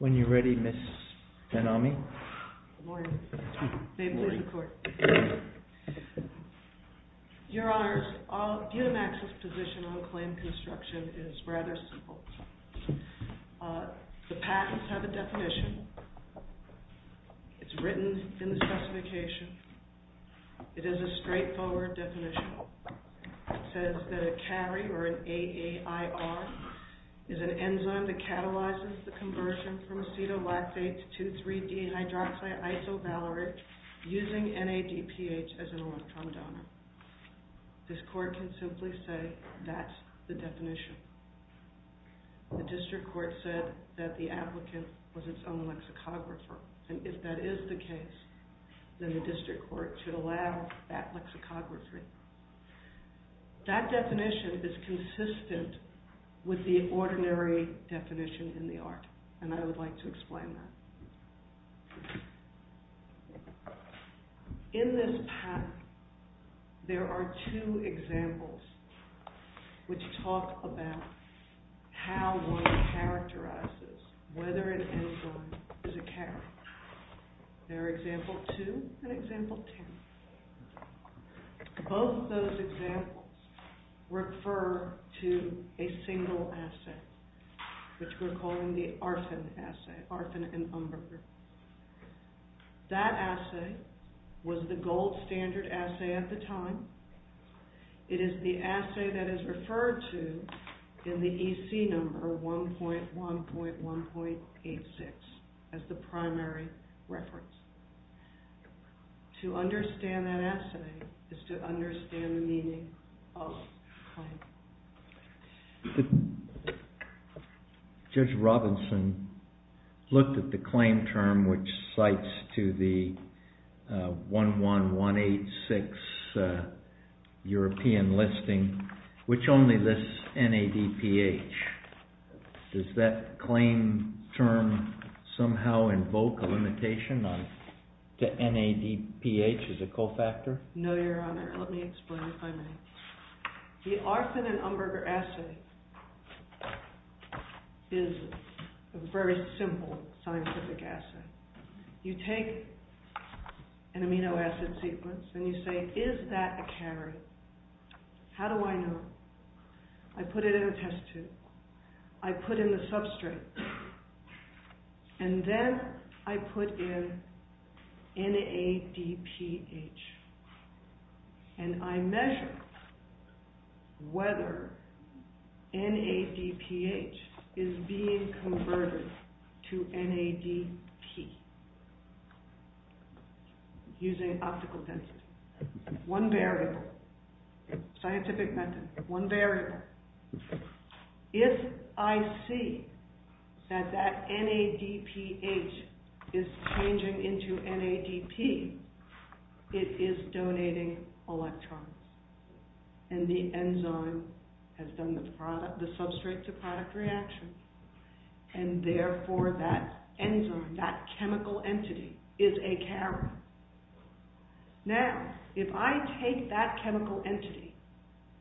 When you're ready, Ms. Ben-Ami. Good morning. Good morning. May it please the court. Your Honors, all of UMAC's position on claim construction is rather simple. The patents have a definition. It's written in the specification. It is a straightforward definition. It says that a CARI, or an A-A-I-R, is an enzyme that catalyzes the conversion from acetolactate to 2,3-D-hydroxide isovalerate using NADPH as an electron donor. This court can simply say that's the definition. The district court said that the applicant was its own lexicographer. And if that is the case, then the district court should allow that lexicography. That definition is consistent with the ordinary definition in the art, and I would like to explain that. In this patent, there are two examples which talk about how one characterizes whether an enzyme is a CARI. There are example 2 and example 10. Both those examples refer to a single assay, which we're calling the ARFN assay, ARFN and UMBR. That assay was the gold standard assay at the time. It is the assay that is referred to in the EC number 1.1.1.86 as the primary reference. To understand that assay is to understand the meaning of the claim. Judge Robinson looked at the claim term which cites to the 1.1.1.86 European listing, which only lists NADPH. Does that claim term somehow invoke a limitation to NADPH as a co-factor? No, Your Honor. Let me explain if I may. The ARFN and UMBR assay is a very simple scientific assay. You take an amino acid sequence and you say, is that a CARI? How do I know? I put it in a test tube. I put in the substrate. And then I put in NADPH. And I measure whether NADPH is being converted to NADP using optical tensors. One variable, scientific method, one variable. If I see that that NADPH is changing into NADP, it is donating electrons. And the enzyme has done the substrate to product reaction. And therefore that enzyme, that chemical entity, is a CARI. Now, if I take that chemical entity,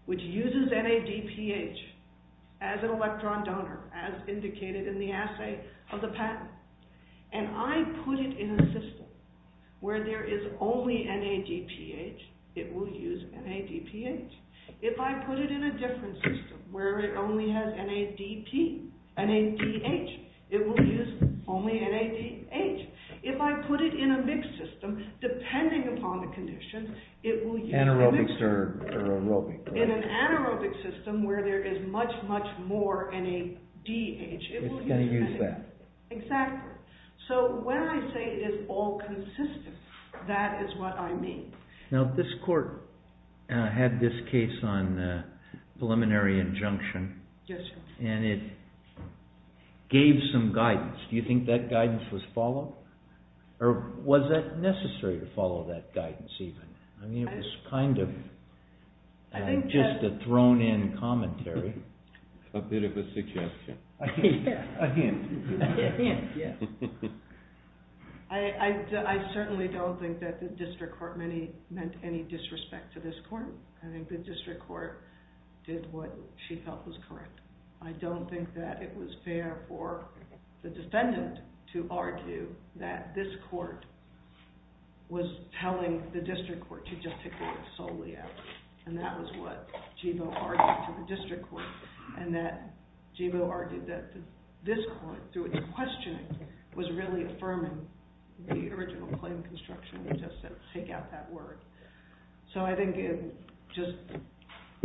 which uses NADPH as an electron donor, as indicated in the assay of the patent, and I put it in a system where there is only NADPH, it will use NADPH. If I put it in a different system where it only has NADH, it will use only NADH. If I put it in a mixed system, depending upon the condition, it will use NADH. Anaerobic or aerobic, right? In an anaerobic system where there is much, much more NADH, it will use NADH. It's going to use that. Exactly. So when I say it is all consistent, that is what I mean. Now, this court had this case on preliminary injunction. Yes, sir. And it gave some guidance. Do you think that guidance was followed? Or was that necessary to follow that guidance even? I mean, it was kind of just a thrown-in commentary. A bit of a suggestion. A hint. A hint. A hint, yes. I certainly don't think that the district court meant any disrespect to this court. I think the district court did what she felt was correct. I don't think that it was fair for the defendant to argue that this court was telling the district court to just take the case solely out. And that was what Jebo argued to the district court. And that Jebo argued that this court, through its questioning, was really affirming the original claim construction, just to take out that word. So I think this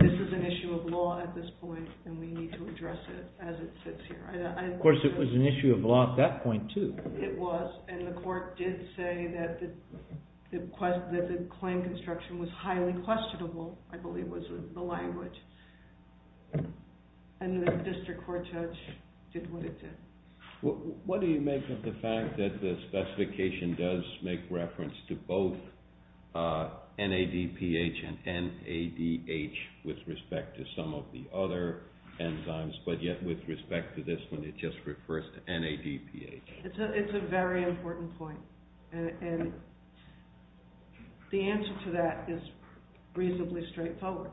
is an issue of law at this point, and we need to address it as it sits here. Of course, it was an issue of law at that point, too. It was. And the court did say that the claim construction was highly unquestionable, I believe was the language. And the district court judge did what it did. What do you make of the fact that the specification does make reference to both NADPH and NADH with respect to some of the other enzymes, but yet with respect to this one, it just refers to NADPH? It's a very important point. And the answer to that is reasonably straightforward.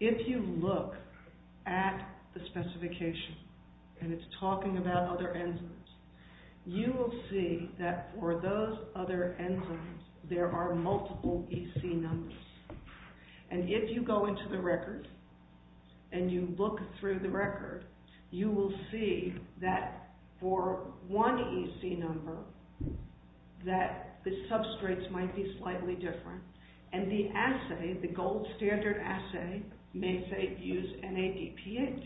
If you look at the specification, and it's talking about other enzymes, you will see that for those other enzymes, there are multiple EC numbers. And if you go into the record, and you look through the record, you will see that for one EC number, that the substrates might be slightly different. And the assay, the gold standard assay, may say use NADPH.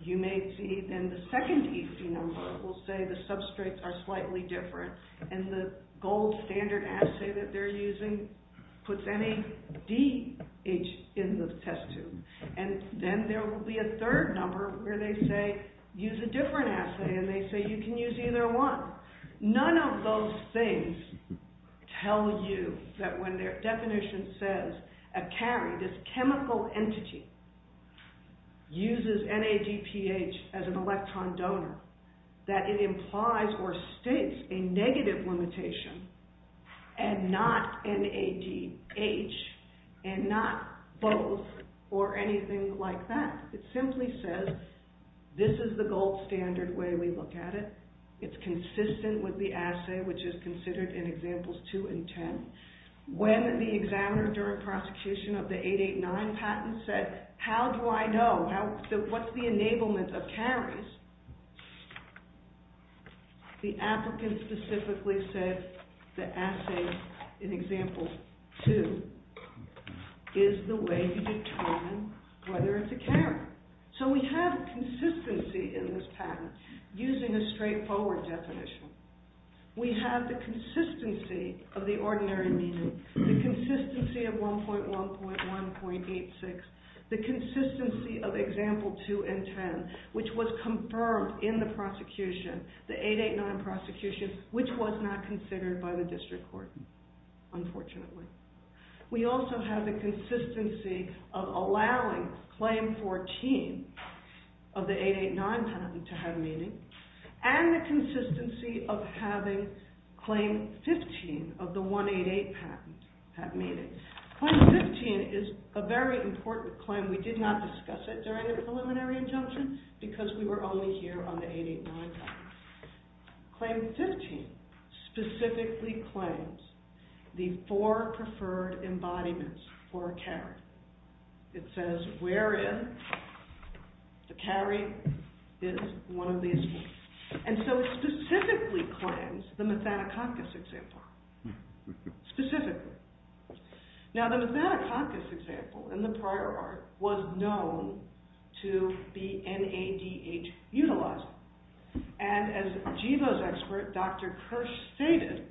You may see then the second EC number will say the substrates are slightly different, and the gold standard assay that they're using puts NADH in the test tube. And then there will be a third number where they say use a different assay, and they say you can use either one. None of those things tell you that when their definition says a carry, this chemical entity, uses NADPH as an electron donor, that it implies or states a negative limitation and not NADH and not both or anything like that. It simply says this is the gold standard way we look at it. It's consistent with the assay, which is considered in examples two and ten. When the examiner during prosecution of the 889 patent said, how do I know? What's the enablement of carries? The applicant specifically said the assay in example two is the way you determine whether it's a carry. So we have consistency in this patent using a straightforward definition. We have the consistency of the ordinary meaning, the consistency of 1.1.1.86, the consistency of example two and ten, which was confirmed in the prosecution, the 889 prosecution, which was not considered by the district court, unfortunately. We also have the consistency of allowing claim 14 of the 889 patent to have meaning and the consistency of having claim 15 of the 188 patent have meaning. Claim 15 is a very important claim. We did not discuss it during the preliminary injunction because we were only here on the 889 patent. Claim 15 specifically claims the four preferred embodiments for a carry. It says wherein the carry is one of these. And so it specifically claims the Methanococcus example, specifically. Now, the Methanococcus example in the prior art was known to be NADH utilized. And as GEVO's expert, Dr. Kirsch, stated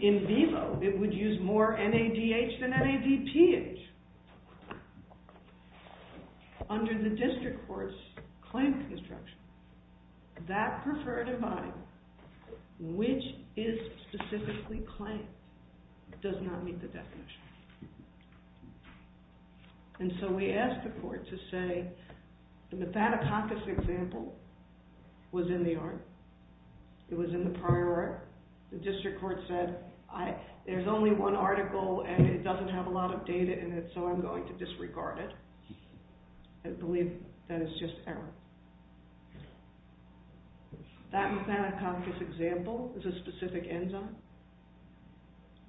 in vivo it would use more NADH than NADPH. Under the district court's claim construction, that preferred embodiment, which is specifically claimed, does not meet the definition. And so we asked the court to say the Methanococcus example was in the art. It was in the prior art. The district court said there's only one article and it doesn't have a lot of data in it, so I'm going to disregard it. I believe that is just error. That Methanococcus example is a specific enzyme.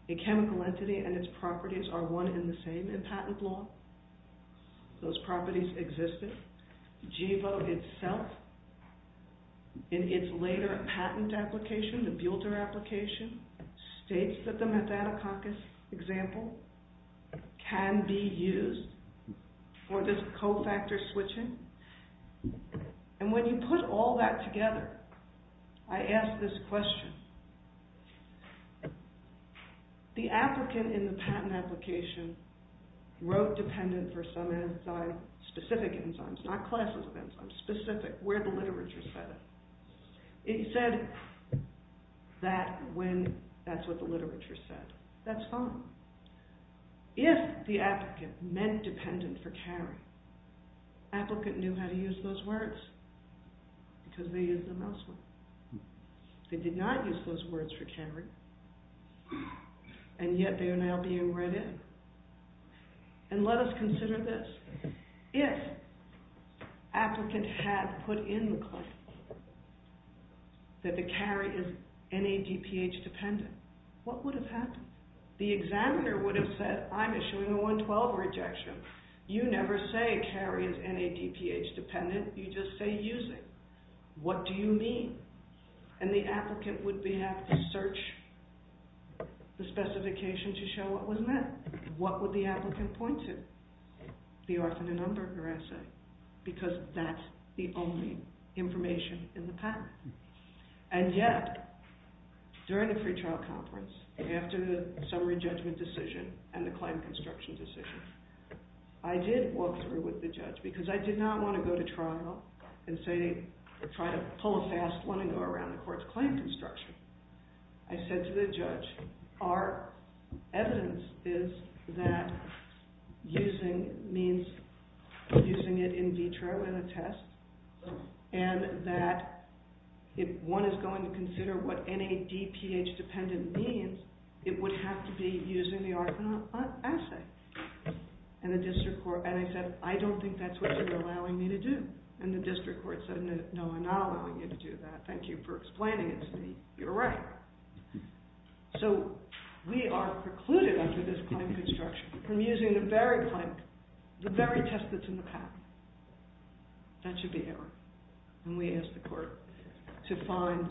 A chemical entity and its properties are one and the same in patent law. Those properties existed. GEVO itself, in its later patent application, the builder application, states that the Methanococcus example can be used for this co-factor switching. And when you put all that together, I ask this question, the applicant in the patent application wrote dependent for some enzyme, specific enzymes, not classes of enzymes, specific, where the literature said it. It said that when that's what the literature said. That's fine. If the applicant meant dependent for carry, applicant knew how to use those words because they used them elsewhere. They did not use those words for carry, and yet they are now being read in. And let us consider this. If applicant had put in the claim that the carry is NADPH dependent, what would have happened? The examiner would have said, I'm issuing a 112 rejection. You never say carry is NADPH dependent. You just say using. What do you mean? And the applicant would have to search the specification to show what was meant. What would the applicant point to? The arsenic number of their assay because that's the only information in the patent. And yet, during the free trial conference, after the summary judgment decision and the claim construction decision, I did walk through with the judge because I did not want to go to trial and try to pull a fast one and go around the court's claim construction. I said to the judge, our evidence is that using means using it in the test, and that if one is going to consider what NADPH dependent means, it would have to be using the arsenic assay. And I said, I don't think that's what you're allowing me to do. And the district court said, no, I'm not allowing you to do that. Thank you for explaining it to me. You're right. So we are precluded under this claim construction from using the very test that's in the patent. That should be error. And we ask the court to find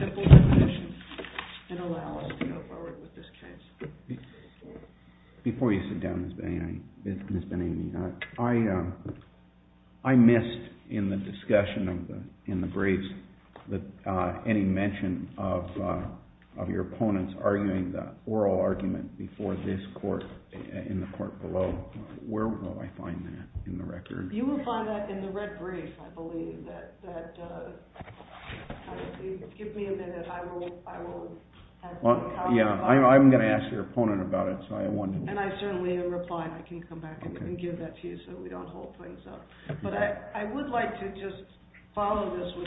simple definitions that allow us to go forward with this case. Before you sit down, Ms. Ben-Amy, I missed in the discussion in the briefs any mention of your opponents arguing the oral argument before this court, in the court below. Where will I find that in the record? You will find that in the red brief, I believe. Give me a minute. I will have a copy of that. Yeah, I'm going to ask your opponent about it. And I certainly am replying. I can come back and give that to you so we don't hold things up. But I would like to just follow this with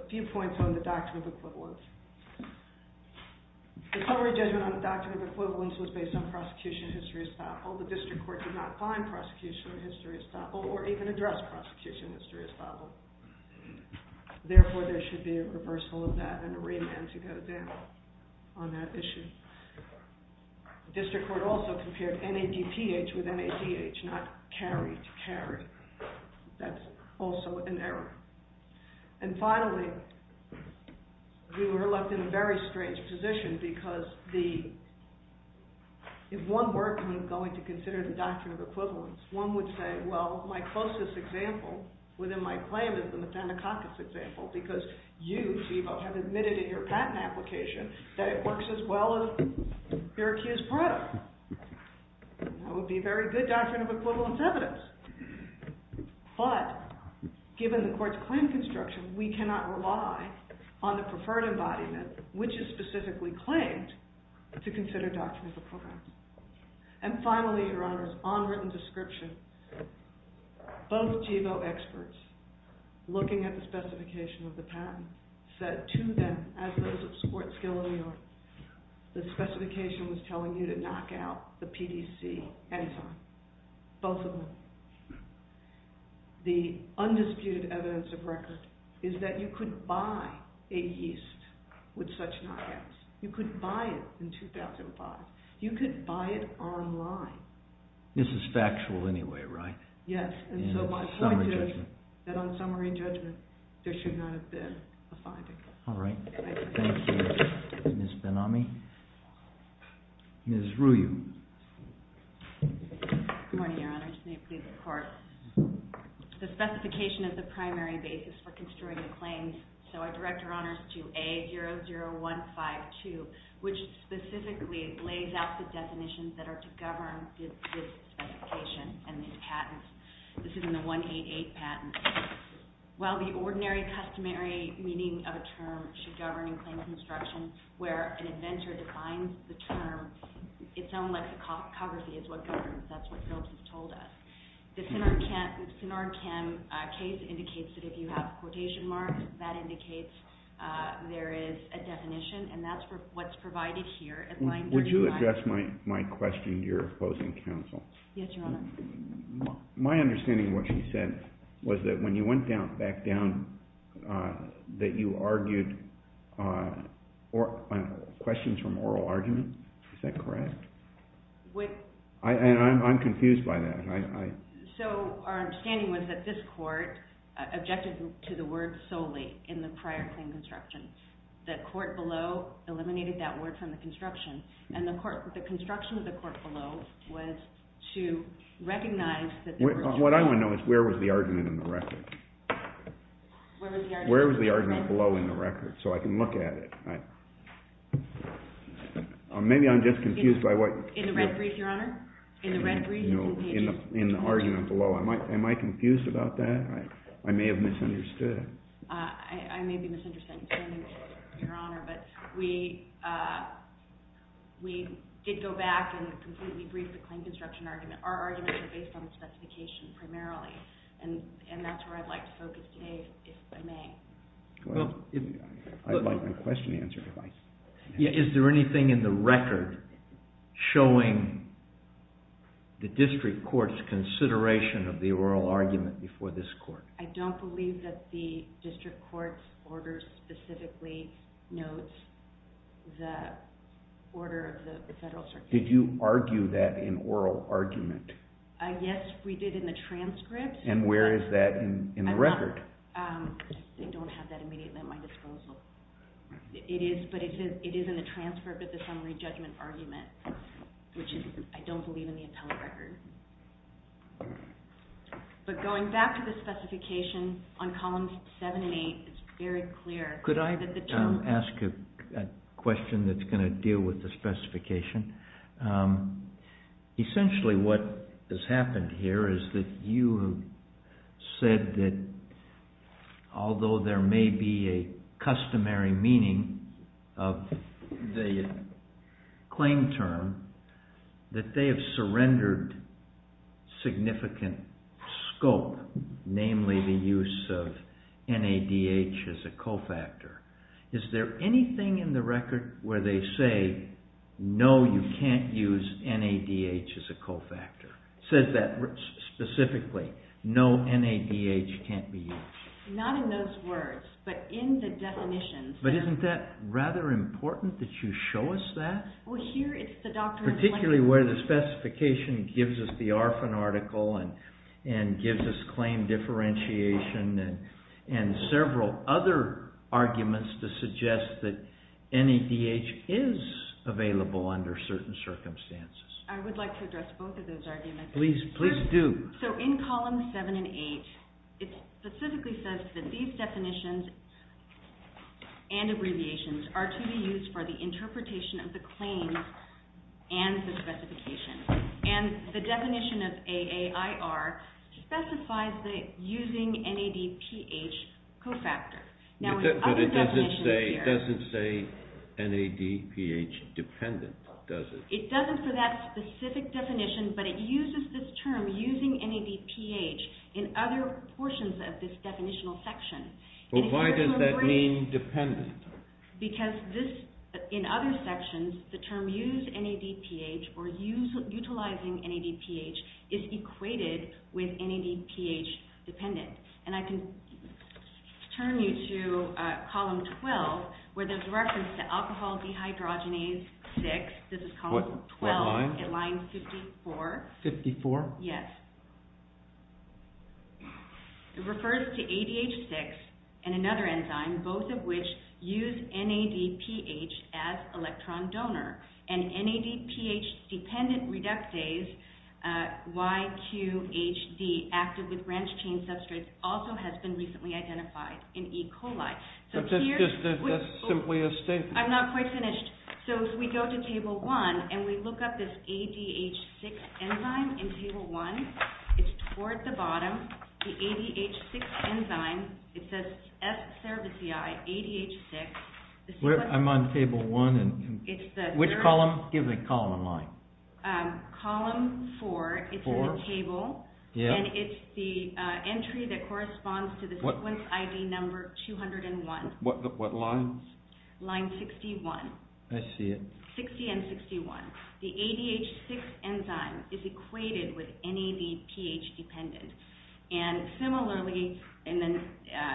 a few points on the doctrine of equivalence. The summary judgment on the doctrine of equivalence was based on the fact that the district court did not find prosecution of history estoppel or even address prosecution of history estoppel. Therefore, there should be a reversal of that and a remand to go down on that issue. District court also compared NADPH with NADH, not carried, carried. That's also an error. And finally, we were left in a very strange position because if one were kind of going to consider the doctrine of equivalence, one would say, well, my closest example within my claim is the Mathenna-Cockett example because you, Steve-O, have admitted in your patent application that it works as well as your accused product. That would be very good doctrine of equivalence evidence. But given the court's claim construction, we cannot rely on the preferred embodiment, which is specifically claimed, to consider the doctrine of the program. And finally, Your Honors, on written description, both GEVO experts looking at the specification of the patent said to them, as those of sports skill in New York, the specification was telling you to knock out the PDC anytime. Both of them. The undisputed evidence of record is that you could buy a yeast with such knockouts. You could buy it in 2005. You could buy it online. This is factual anyway, right? Yes. And so my point is that on summary judgment, there should not have been a finding. All right. Thank you, Ms. Ben-Ami. Ms. Ryu. Good morning, Your Honors. May it please the Court. The specification is the primary basis for construing a claim. So I direct Your Honors to A00152, which specifically lays out the definitions that are to govern this specification and these patents. This is in the 188 patent. While the ordinary customary meaning of a term should govern claim construction, where an inventor defines the term, its own lexicography is what governs. That's what Phillips has told us. The Sinarcham case indicates that if you have quotation marks, that indicates there is a definition. And that's what's provided here. Would you address my question to your opposing counsel? Yes, Your Honor. My understanding of what she said was that when you went back down, that you argued questions from oral argument. Is that correct? I'm confused by that. So our understanding was that this court objected to the word solely in the prior claim construction. The court below eliminated that word from the construction. And the construction of the court below was to recognize that the original. What I want to know is where was the argument in the record? Where was the argument? Where was the argument below in the record so I can look at it? Maybe I'm just confused by what. In the red brief, Your Honor. In the red brief. In the argument below. Am I confused about that? I may have misunderstood. I may be misunderstood, Your Honor. But we did go back and completely brief the claim construction argument. Our arguments are based on the specification primarily. And that's where I'd like to focus today, if I may. I'd like my question answered. Is there anything in the record showing the district court's consideration of the oral argument before this court? I don't believe that the district court's order specifically notes the order of the Federal Circuit. Did you argue that in oral argument? Yes, we did in the transcript. And where is that in the record? I don't have that immediately at my disposal. But it is in the transcript of the summary judgment argument, which I don't believe in the appellate record. But going back to the specification on columns 7 and 8, it's very clear. Could I ask a question that's going to deal with the specification? Essentially what has happened here is that you have said that although there may be a customary meaning of the claim term, that they have surrendered significant scope, namely the use of NADH as a cofactor. Is there anything in the record where they say, no, you can't use NADH as a cofactor? It says that specifically, no NADH can't be used. Not in those words, but in the definitions. But isn't that rather important that you show us that? Particularly where the specification gives us the ARFN article and gives us claim differentiation and several other arguments to suggest that NADH is available under certain circumstances. I would like to address both of those arguments. Please do. So in columns 7 and 8, it specifically says that these definitions and abbreviations are to be used for the interpretation of the claims and the specification. And the definition of AAIR specifies that using NADPH cofactor. But it doesn't say NADPH dependent, does it? It doesn't for that specific definition, but it uses this term, using NADPH, in other portions of this definitional section. But why does that mean dependent? Because in other sections, the term use NADPH or utilizing NADPH is equated with NADPH dependent. And I can turn you to column 12, where there's reference to alcohol dehydrogenase 6. This is column 12 at line 54. 54? Yes. It refers to ADH6 and another enzyme, both of which use NADPH as electron donor. And NADPH dependent reductase, YQHD, active with branched-chain substrates, also has been recently identified in E. coli. But that's simply a statement. I'm not quite finished. So if we go to table 1 and we look up this ADH6 enzyme in table 1, it's toward the bottom, the ADH6 enzyme. It says S. cerevisiae, ADH6. I'm on table 1. Which column? Give me column and line. Column 4. It's in the table. And it's the entry that corresponds to the sequence ID number 201. What line? Line 61. I see it. 60 and 61. The ADH6 enzyme is equated with NADPH dependent. And similarly, in the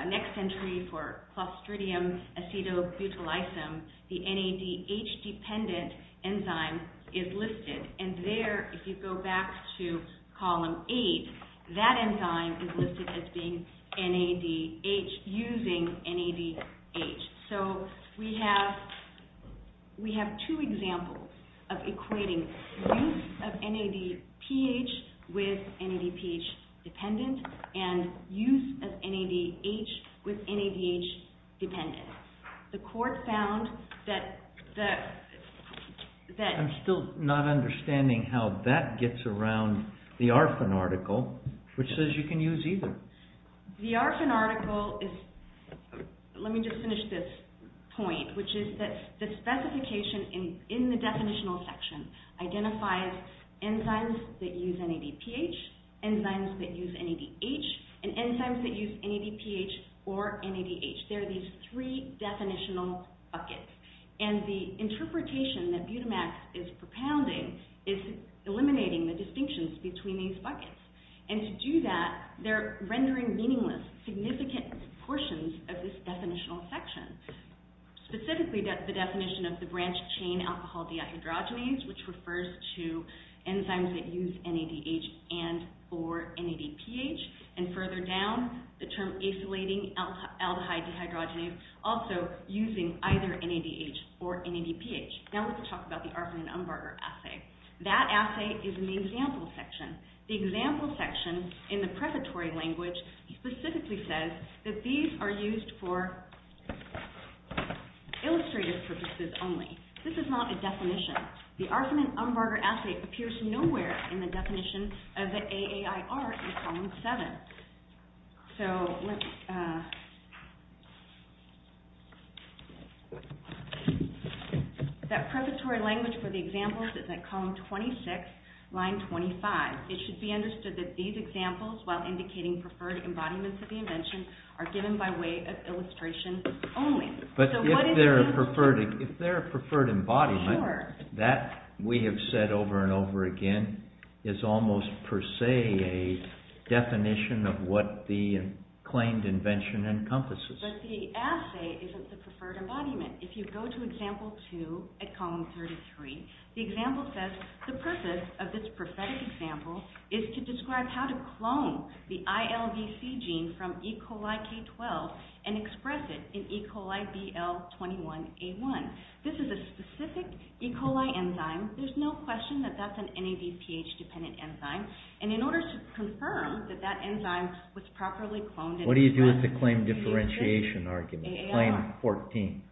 next entry for clostridium acetobutylicum, the NADH dependent enzyme is listed. And there, if you go back to column 8, that enzyme is listed as being NADH using NADH. So we have two examples of equating use of NADPH with NADPH dependent and use of NADH with NADH dependent. The court found that the – I'm still not understanding how that gets around the ARFN article, which says you can use either. The ARFN article is – let me just finish this point, which is that the specification in the definitional section identifies enzymes that use NADPH, enzymes that use NADH, and enzymes that use NADPH or NADH. There are these three definitional buckets. And the interpretation that Butamax is propounding is eliminating the distinctions between these buckets. And to do that, they're rendering meaningless, significant proportions of this definitional section, specifically the definition of the branched chain alcohol dehydrogenase, which refers to enzymes that use NADH and or NADPH, and further down, the term acylating aldehyde dehydrogenase, also using either NADH or NADPH. Now let's talk about the ARFN and Umbarger assay. That assay is in the example section. The example section in the preparatory language specifically says that these are used for illustrative purposes only. This is not a definition. The ARFN and Umbarger assay appears nowhere in the definition of the AAIR in column 7. So that preparatory language for the examples is in column 26, line 25. It should be understood that these examples, while indicating preferred embodiments of the invention, are given by way of illustration only. But if they're a preferred embodiment, that, we have said over and over again, is almost per se a definition of what the claimed invention encompasses. But the assay isn't the preferred embodiment. If you go to example 2 at column 33, the example says, the purpose of this prophetic example is to describe how to clone the ILVC gene from E. coli K12 and express it in E. coli BL21A1. This is a specific E. coli enzyme. There's no question that that's an NADPH-dependent enzyme. And in order to confirm that that enzyme was properly cloned and expressed… What do you do with the claim differentiation argument, claim 14?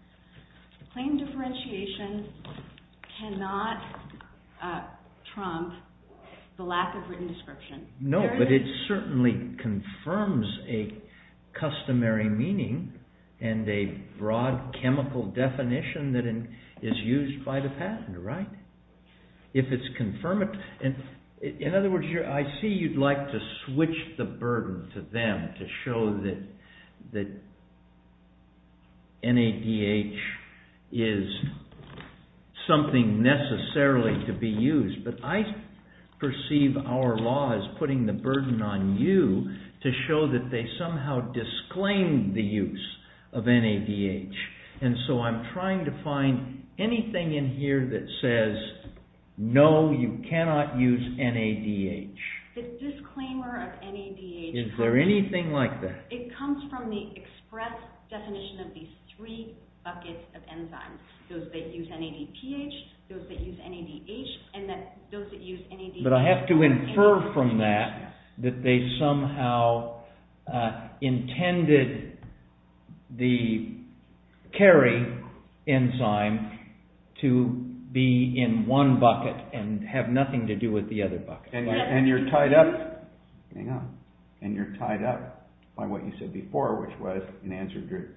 Claim differentiation cannot trump the lack of written description. No, but it certainly confirms a customary meaning and a broad chemical definition that is used by the patent, right? If it's confirmed… In other words, I see you'd like to switch the burden to them to show that NADH is something necessarily to be used. But I perceive our law as putting the burden on you to show that they somehow disclaim the use of NADH. And so I'm trying to find anything in here that says, no, you cannot use NADH. The disclaimer of NADH… Is there anything like that? It comes from the express definition of these three buckets of enzymes. Those that use NADPH, those that use NADH, and those that use NADH… But I have to infer from that that they somehow intended the carry enzyme to be in one bucket and have nothing to do with the other bucket. And you're tied up by what you said before, which was in answer to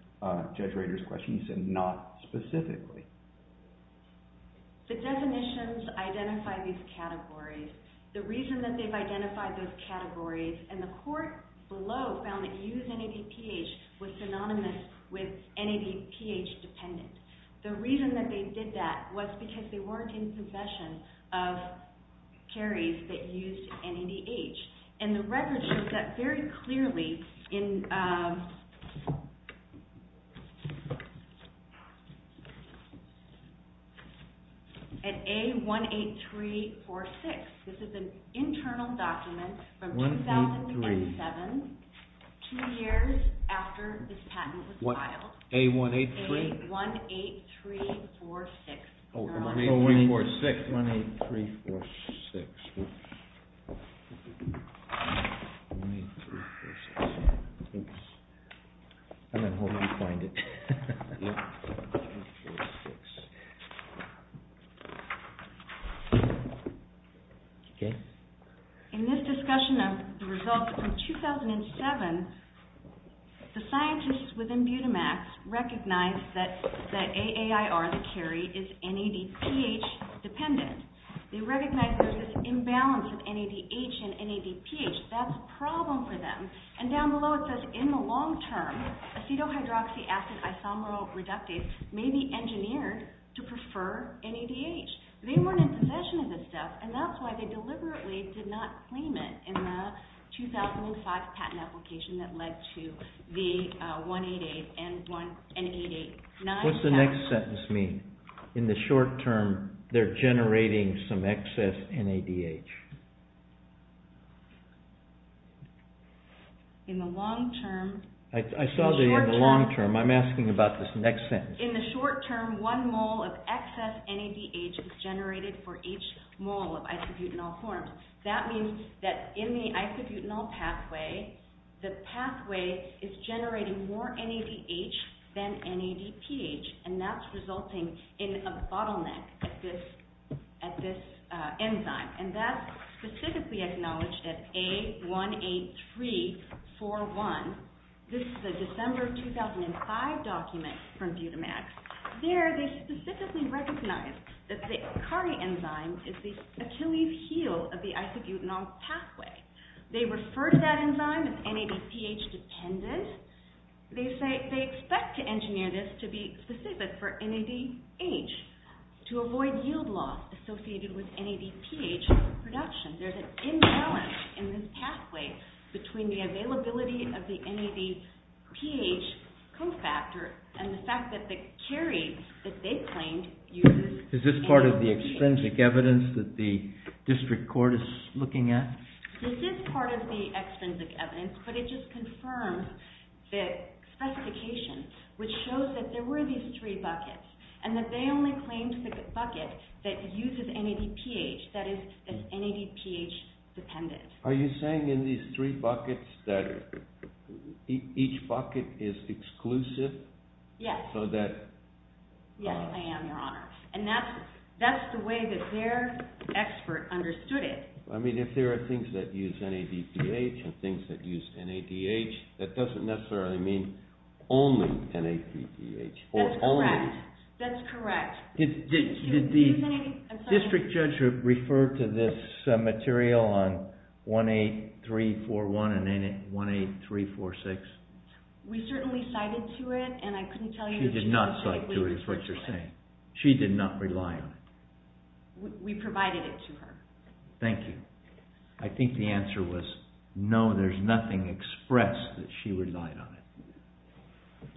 Judge Rader's question, you said not specifically. The definitions identify these categories. The reason that they've identified those categories, and the court below found that use NADPH was synonymous with NADPH-dependent. The reason that they did that was because they weren't in possession of carries that used NADH. And the record shows that very clearly in… At A18346. This is an internal document from 2007, two years after this patent was filed. A183? A18346. Oh, 18346. 18346. 18346. I'm going to hold it and find it. 18346. Okay. In this discussion of the results from 2007, the scientists within Butamax recognized that AAIR, the carry, is NADPH-dependent. They recognized there was this imbalance of NADH and NADPH. That's a problem for them. And down below it says, in the long term, acetohydroxy acid isomeral reductase may be engineered to prefer NADH. They weren't in possession of this stuff, and that's why they deliberately did not claim it in the 2005 patent application that led to the 188 and 189… What's the next sentence mean? In the short term, they're generating some excess NADH. In the long term… I saw the long term. I'm asking about this next sentence. In the short term, one mole of excess NADH is generated for each mole of isobutanol formed. That means that in the isobutanol pathway, the pathway is generating more NADH than NADPH, and that's resulting in a bottleneck at this enzyme. And that's specifically acknowledged at A18341. This is a December 2005 document from Butamax. There, they specifically recognize that the ACARI enzyme is the Achilles heel of the isobutanol pathway. They refer to that enzyme as NADPH-dependent. They expect to engineer this to be specific for NADH to avoid yield loss associated with NADPH production. There's an imbalance in this pathway between the availability of the NADPH cofactor and the fact that the CARI that they claimed uses… Is this part of the extrinsic evidence that the district court is looking at? This is part of the extrinsic evidence, but it just confirms the specification, which shows that there were these three buckets and that they only claimed the bucket that uses NADPH, that is, is NADPH-dependent. Are you saying in these three buckets that each bucket is exclusive? Yes. So that… Yes, I am, Your Honor. And that's the way that their expert understood it. I mean, if there are things that use NADPH and things that use NADH, that doesn't necessarily mean only NADPH. That's correct. Did the district judge refer to this material on 18341 and 18346? We certainly cited to it, and I couldn't tell you… She did not cite to it, is what you're saying. She did not rely on it. We provided it to her. Thank you. I think the answer was no, there's nothing expressed that she relied on it.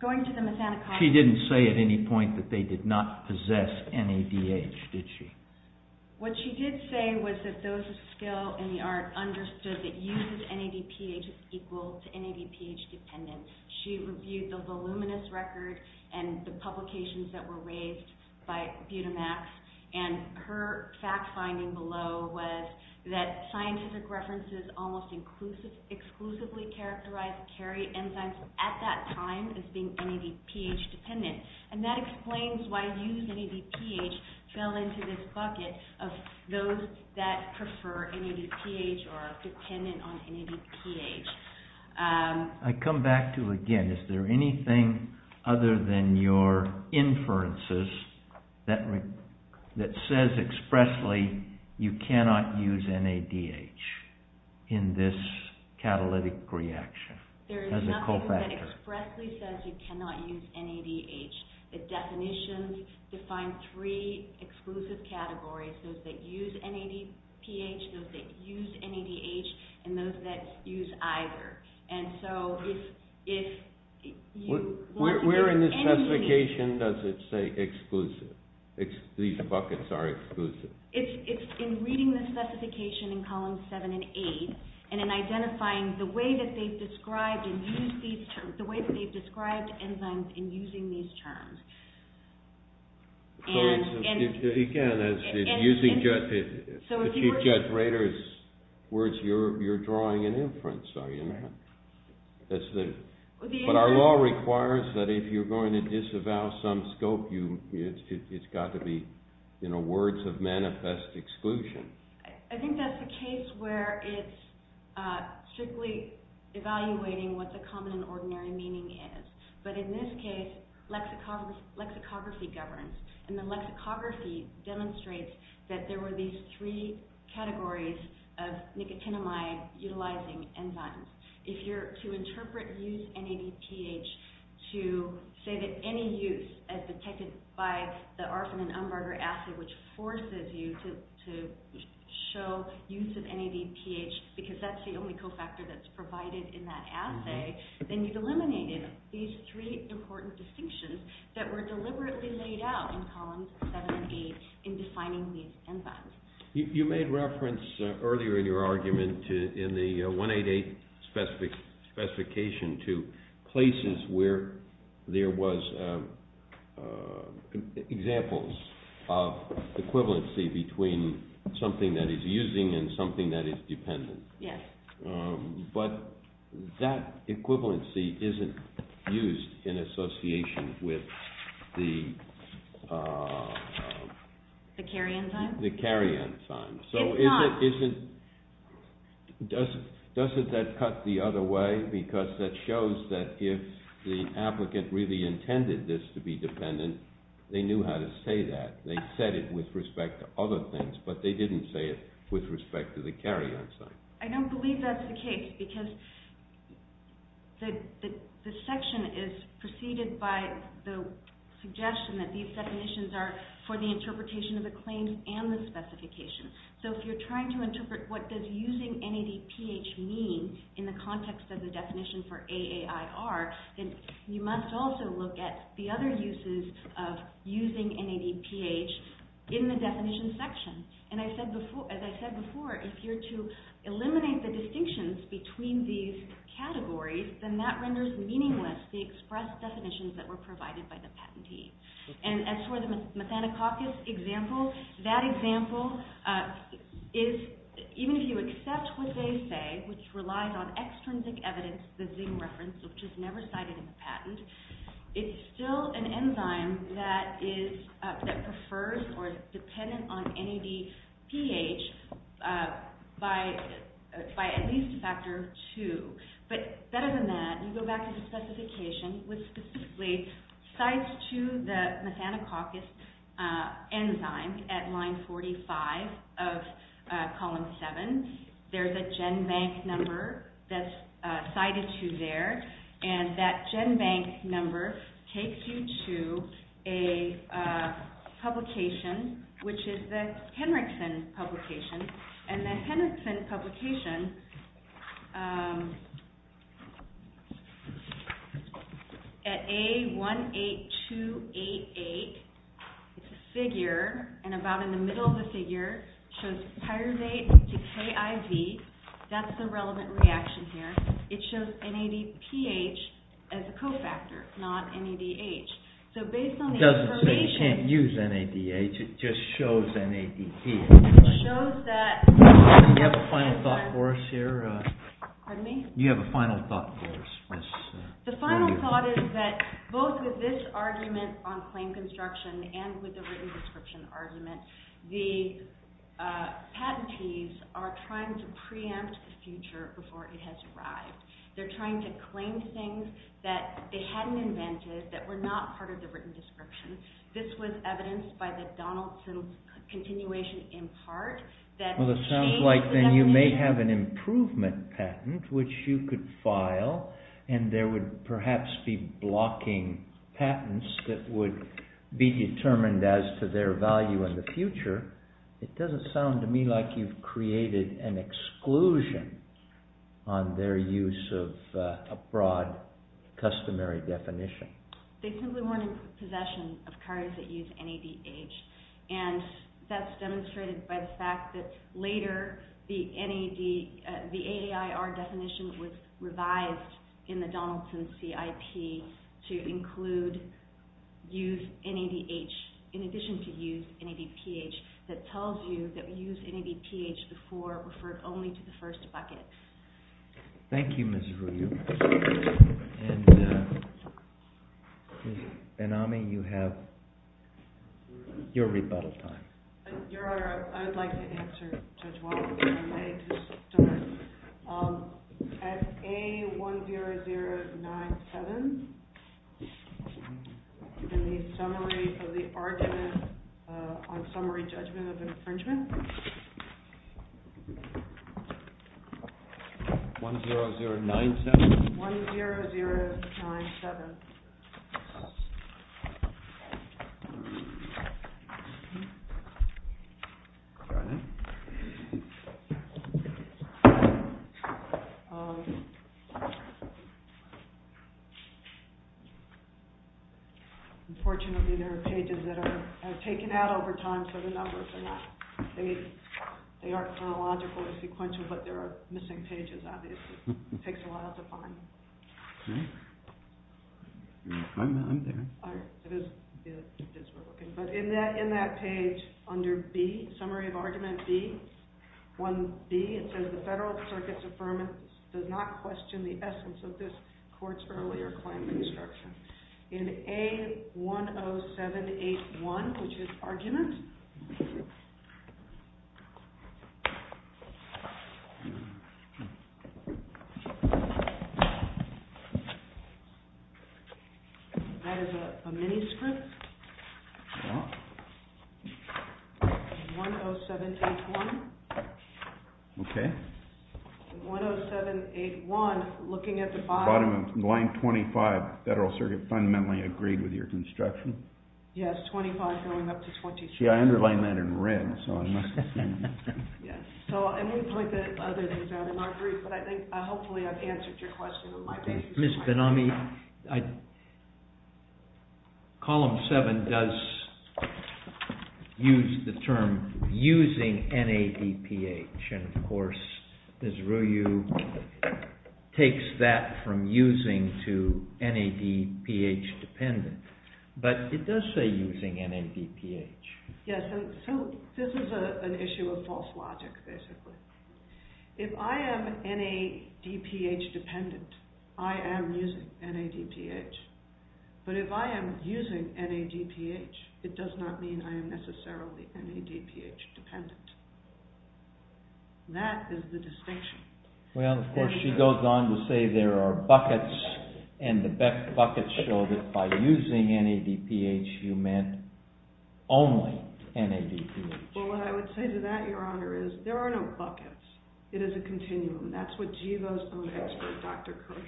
Going to the Mazzanico… She didn't say at any point that they did not possess NADH, did she? What she did say was that those of skill in the art understood that uses NADPH is equal to NADPH-dependent. She reviewed the voluminous record and the publications that were raised by Budamax, and her fact-finding below was that scientific references almost exclusively characterized carry enzymes at that time as being NADPH-dependent. And that explains why use NADPH fell into this bucket of those that prefer NADPH or are dependent on NADPH. I come back to, again, is there anything other than your inferences that says expressly you cannot use NADH in this catalytic reaction as a co-factor? There is nothing that expressly says you cannot use NADH. The definitions define three exclusive categories, those that use NADPH, those that use NADH, and those that use either. Where in the specification does it say exclusive? These buckets are exclusive. It's in reading the specification in columns 7 and 8 and in identifying the way that they've described and used these terms, the way that they've described enzymes in using these terms. So, again, using Judge Rader's words, you're drawing an inference, are you now? But our law requires that if you're going to disavow some scope, it's got to be words of manifest exclusion. I think that's the case where it's strictly evaluating what the common and ordinary meaning is. But in this case, lexicography governs, and the lexicography demonstrates that there were these three categories of nicotinamide-utilizing enzymes. If you're to interpret use NADPH to say that any use as detected by the Arfan and Umbarger assay, which forces you to show use of NADPH because that's the only cofactor that's provided in that assay, then you've eliminated these three important distinctions that were deliberately laid out in columns 7 and 8 in defining these enzymes. You made reference earlier in your argument in the 188 specification to places where there was examples of equivalency between something that is using and something that is dependent. Yes. But that equivalency isn't used in association with the... The carry enzyme? The carry enzyme. It's not. So doesn't that cut the other way? Because that shows that if the applicant really intended this to be dependent, they knew how to say that. They said it with respect to other things, but they didn't say it with respect to the carry enzyme. I don't believe that's the case because the section is preceded by the suggestion that these definitions are for the interpretation of the claims and the specification. So if you're trying to interpret what does using NADPH mean in the context of the definition for AAIR, then you must also look at the other uses of using NADPH in the definition section. And as I said before, if you're to eliminate the distinctions between these categories, then that renders meaningless the express definitions that were provided by the patentee. And as for the methanococcus example, that example is... Even if you accept what they say, which relies on extrinsic evidence, the Zing reference, which is never cited in the patent, it's still an enzyme that prefers or is dependent on NADPH by at least a factor of two. But better than that, you go back to the specification which specifically cites to the methanococcus enzyme at line 45 of column 7. There's a GenBank number that's cited to there, and that GenBank number takes you to a publication, which is the Henriksen publication. And the Henriksen publication, at A18288, it's a figure, and about in the middle of the figure, shows tyrosate to KIV. That's the relevant reaction here. It shows NADPH as a cofactor, not NADH. So based on the information... It doesn't say you can't use NADH, it just shows NADPH. It shows that... You have a final thought for us here. Pardon me? You have a final thought for us. The final thought is that both with this argument on claim construction and with the written description argument, the patentees are trying to preempt the future before it has arrived. They're trying to claim things that they hadn't invented that were not part of the written description. This was evidenced by the Donaldson continuation in part... Well, it sounds like then you may have an improvement patent which you could file, and there would perhaps be blocking patents that would be determined as to their value in the future. It doesn't sound to me like you've created an exclusion on their use of a broad customary definition. They simply weren't in possession of cards that used NADH, and that's demonstrated by the fact that later the AAR definition was revised in the Donaldson CIP to include use NADH in addition to use NADPH that tells you that use NADPH before referred only to the first bucket. Thank you, Ms. Ruiu. And Ms. Benami, you have your rebuttal time. Your Honor, I would like to answer Judge Walton's question. I just don't know. At A10097, in the summary of the argument on summary judgment of infringement... A10097? A10097. Unfortunately, there are pages that are taken out over time, so the numbers are not... They are chronologically sequential, but there are missing pages, obviously. It takes a while to find them. Okay. I'm there. All right. But in that page under B, summary of argument B, 1B, it says, the Federal Circuit's affirmance does not question the essence of this Court's earlier claim construction. In A10781, which is argument... That is a mini-script. Yeah. A10781. Okay. A10781, looking at the bottom... Bottom of line 25, Federal Circuit fundamentally agreed with your construction. Yes, 25 going up to 26. See, I underlined that in red, so I must have seen it. Yes. So, and we point the other things out in our brief, but hopefully I've answered your question in my brief. Ms. Benami, Column 7 does use the term using NADPH, and of course Ms. Ryu takes that from using to NADPH dependent, but it does say using NADPH. Yes, so this is an issue of false logic, basically. If I am NADPH dependent, I am using NADPH. But if I am using NADPH, it does not mean I am necessarily NADPH dependent. That is the distinction. Well, of course she goes on to say there are buckets, and the buckets show that by using NADPH, you meant only NADPH. Well, what I would say to that, Your Honor, is there are no buckets. It is a continuum. That's what GIVO's own expert, Dr. Kirsch,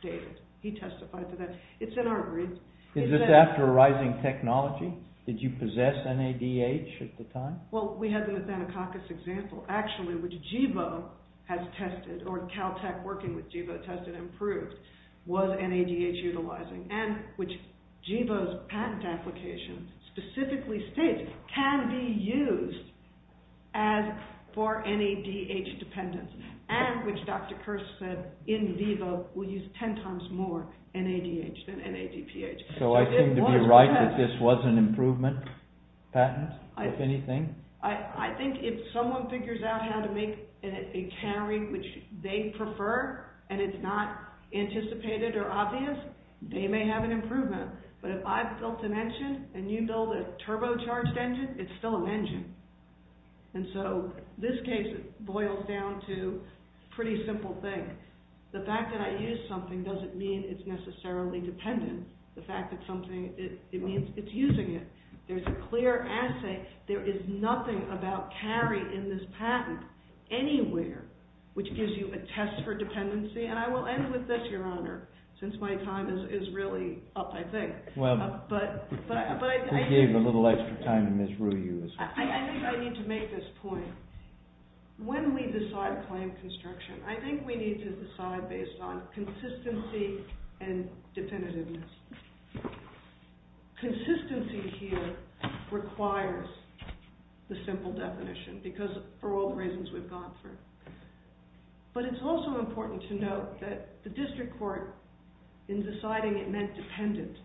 stated. He testified to that. It's in our brief. Is this after a rising technology? Did you possess NADH at the time? Well, we had the Nathanococcus example, actually, which GIVO has tested, or Caltech working with GIVO tested and proved, was NADH utilizing, and which GIVO's patent application specifically states, can be used as for NADH dependence, and which Dr. Kirsch said in VIVO will use 10 times more NADH than NADPH. So I seem to be right that this was an improvement patent, if anything? I think if someone figures out how to make a carrying which they prefer, and it's not anticipated or obvious, they may have an improvement. But if I've built an engine, and you build a turbocharged engine, it's still an engine. And so this case boils down to a pretty simple thing. The fact that I use something doesn't mean it's necessarily dependent. The fact that something, it means it's using it. There's a clear assay. There is nothing about carry in this patent anywhere, which gives you a test for dependency. And I will end with this, Your Honor. Since my time is really up, I think. But I think... We gave a little extra time to Ms. Ryu. I think I need to make this point. When we decide claim construction, I think we need to decide based on consistency and definitiveness. Consistency here requires the simple definition, because for all the reasons we've gone through. But it's also important to note that the district court, in deciding it meant dependent,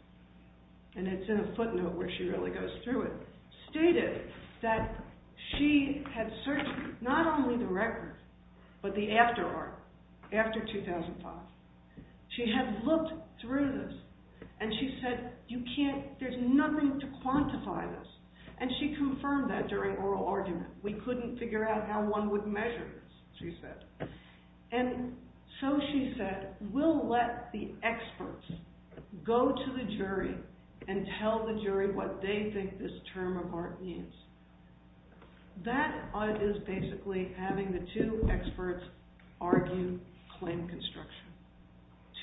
and it's in a footnote where she really goes through it, stated that she had searched not only the record, but the after art, after 2005. She had looked through this, and she said, there's nothing to quantify this. And she confirmed that during oral argument. We couldn't figure out how one would measure this, she said. And so she said, we'll let the experts go to the jury and tell the jury what they think this term of art means. That is basically having the two experts argue claim construction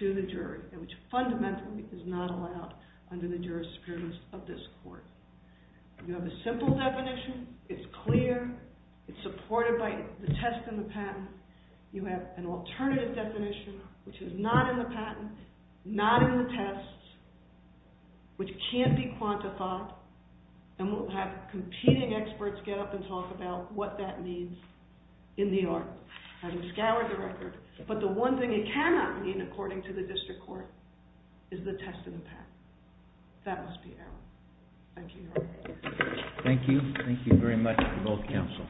to the jury, which fundamentally is not allowed under the jurisprudence of this court. You have a simple definition, it's clear, it's supported by the test and the patent. You have an alternative definition, which is not in the patent, not in the test, which can't be quantified. And we'll have competing experts get up and talk about what that means in the art, having scoured the record. But the one thing it cannot mean, according to the district court, is the test and the patent. That must be it. Thank you. Thank you. Thank you very much for both counsel.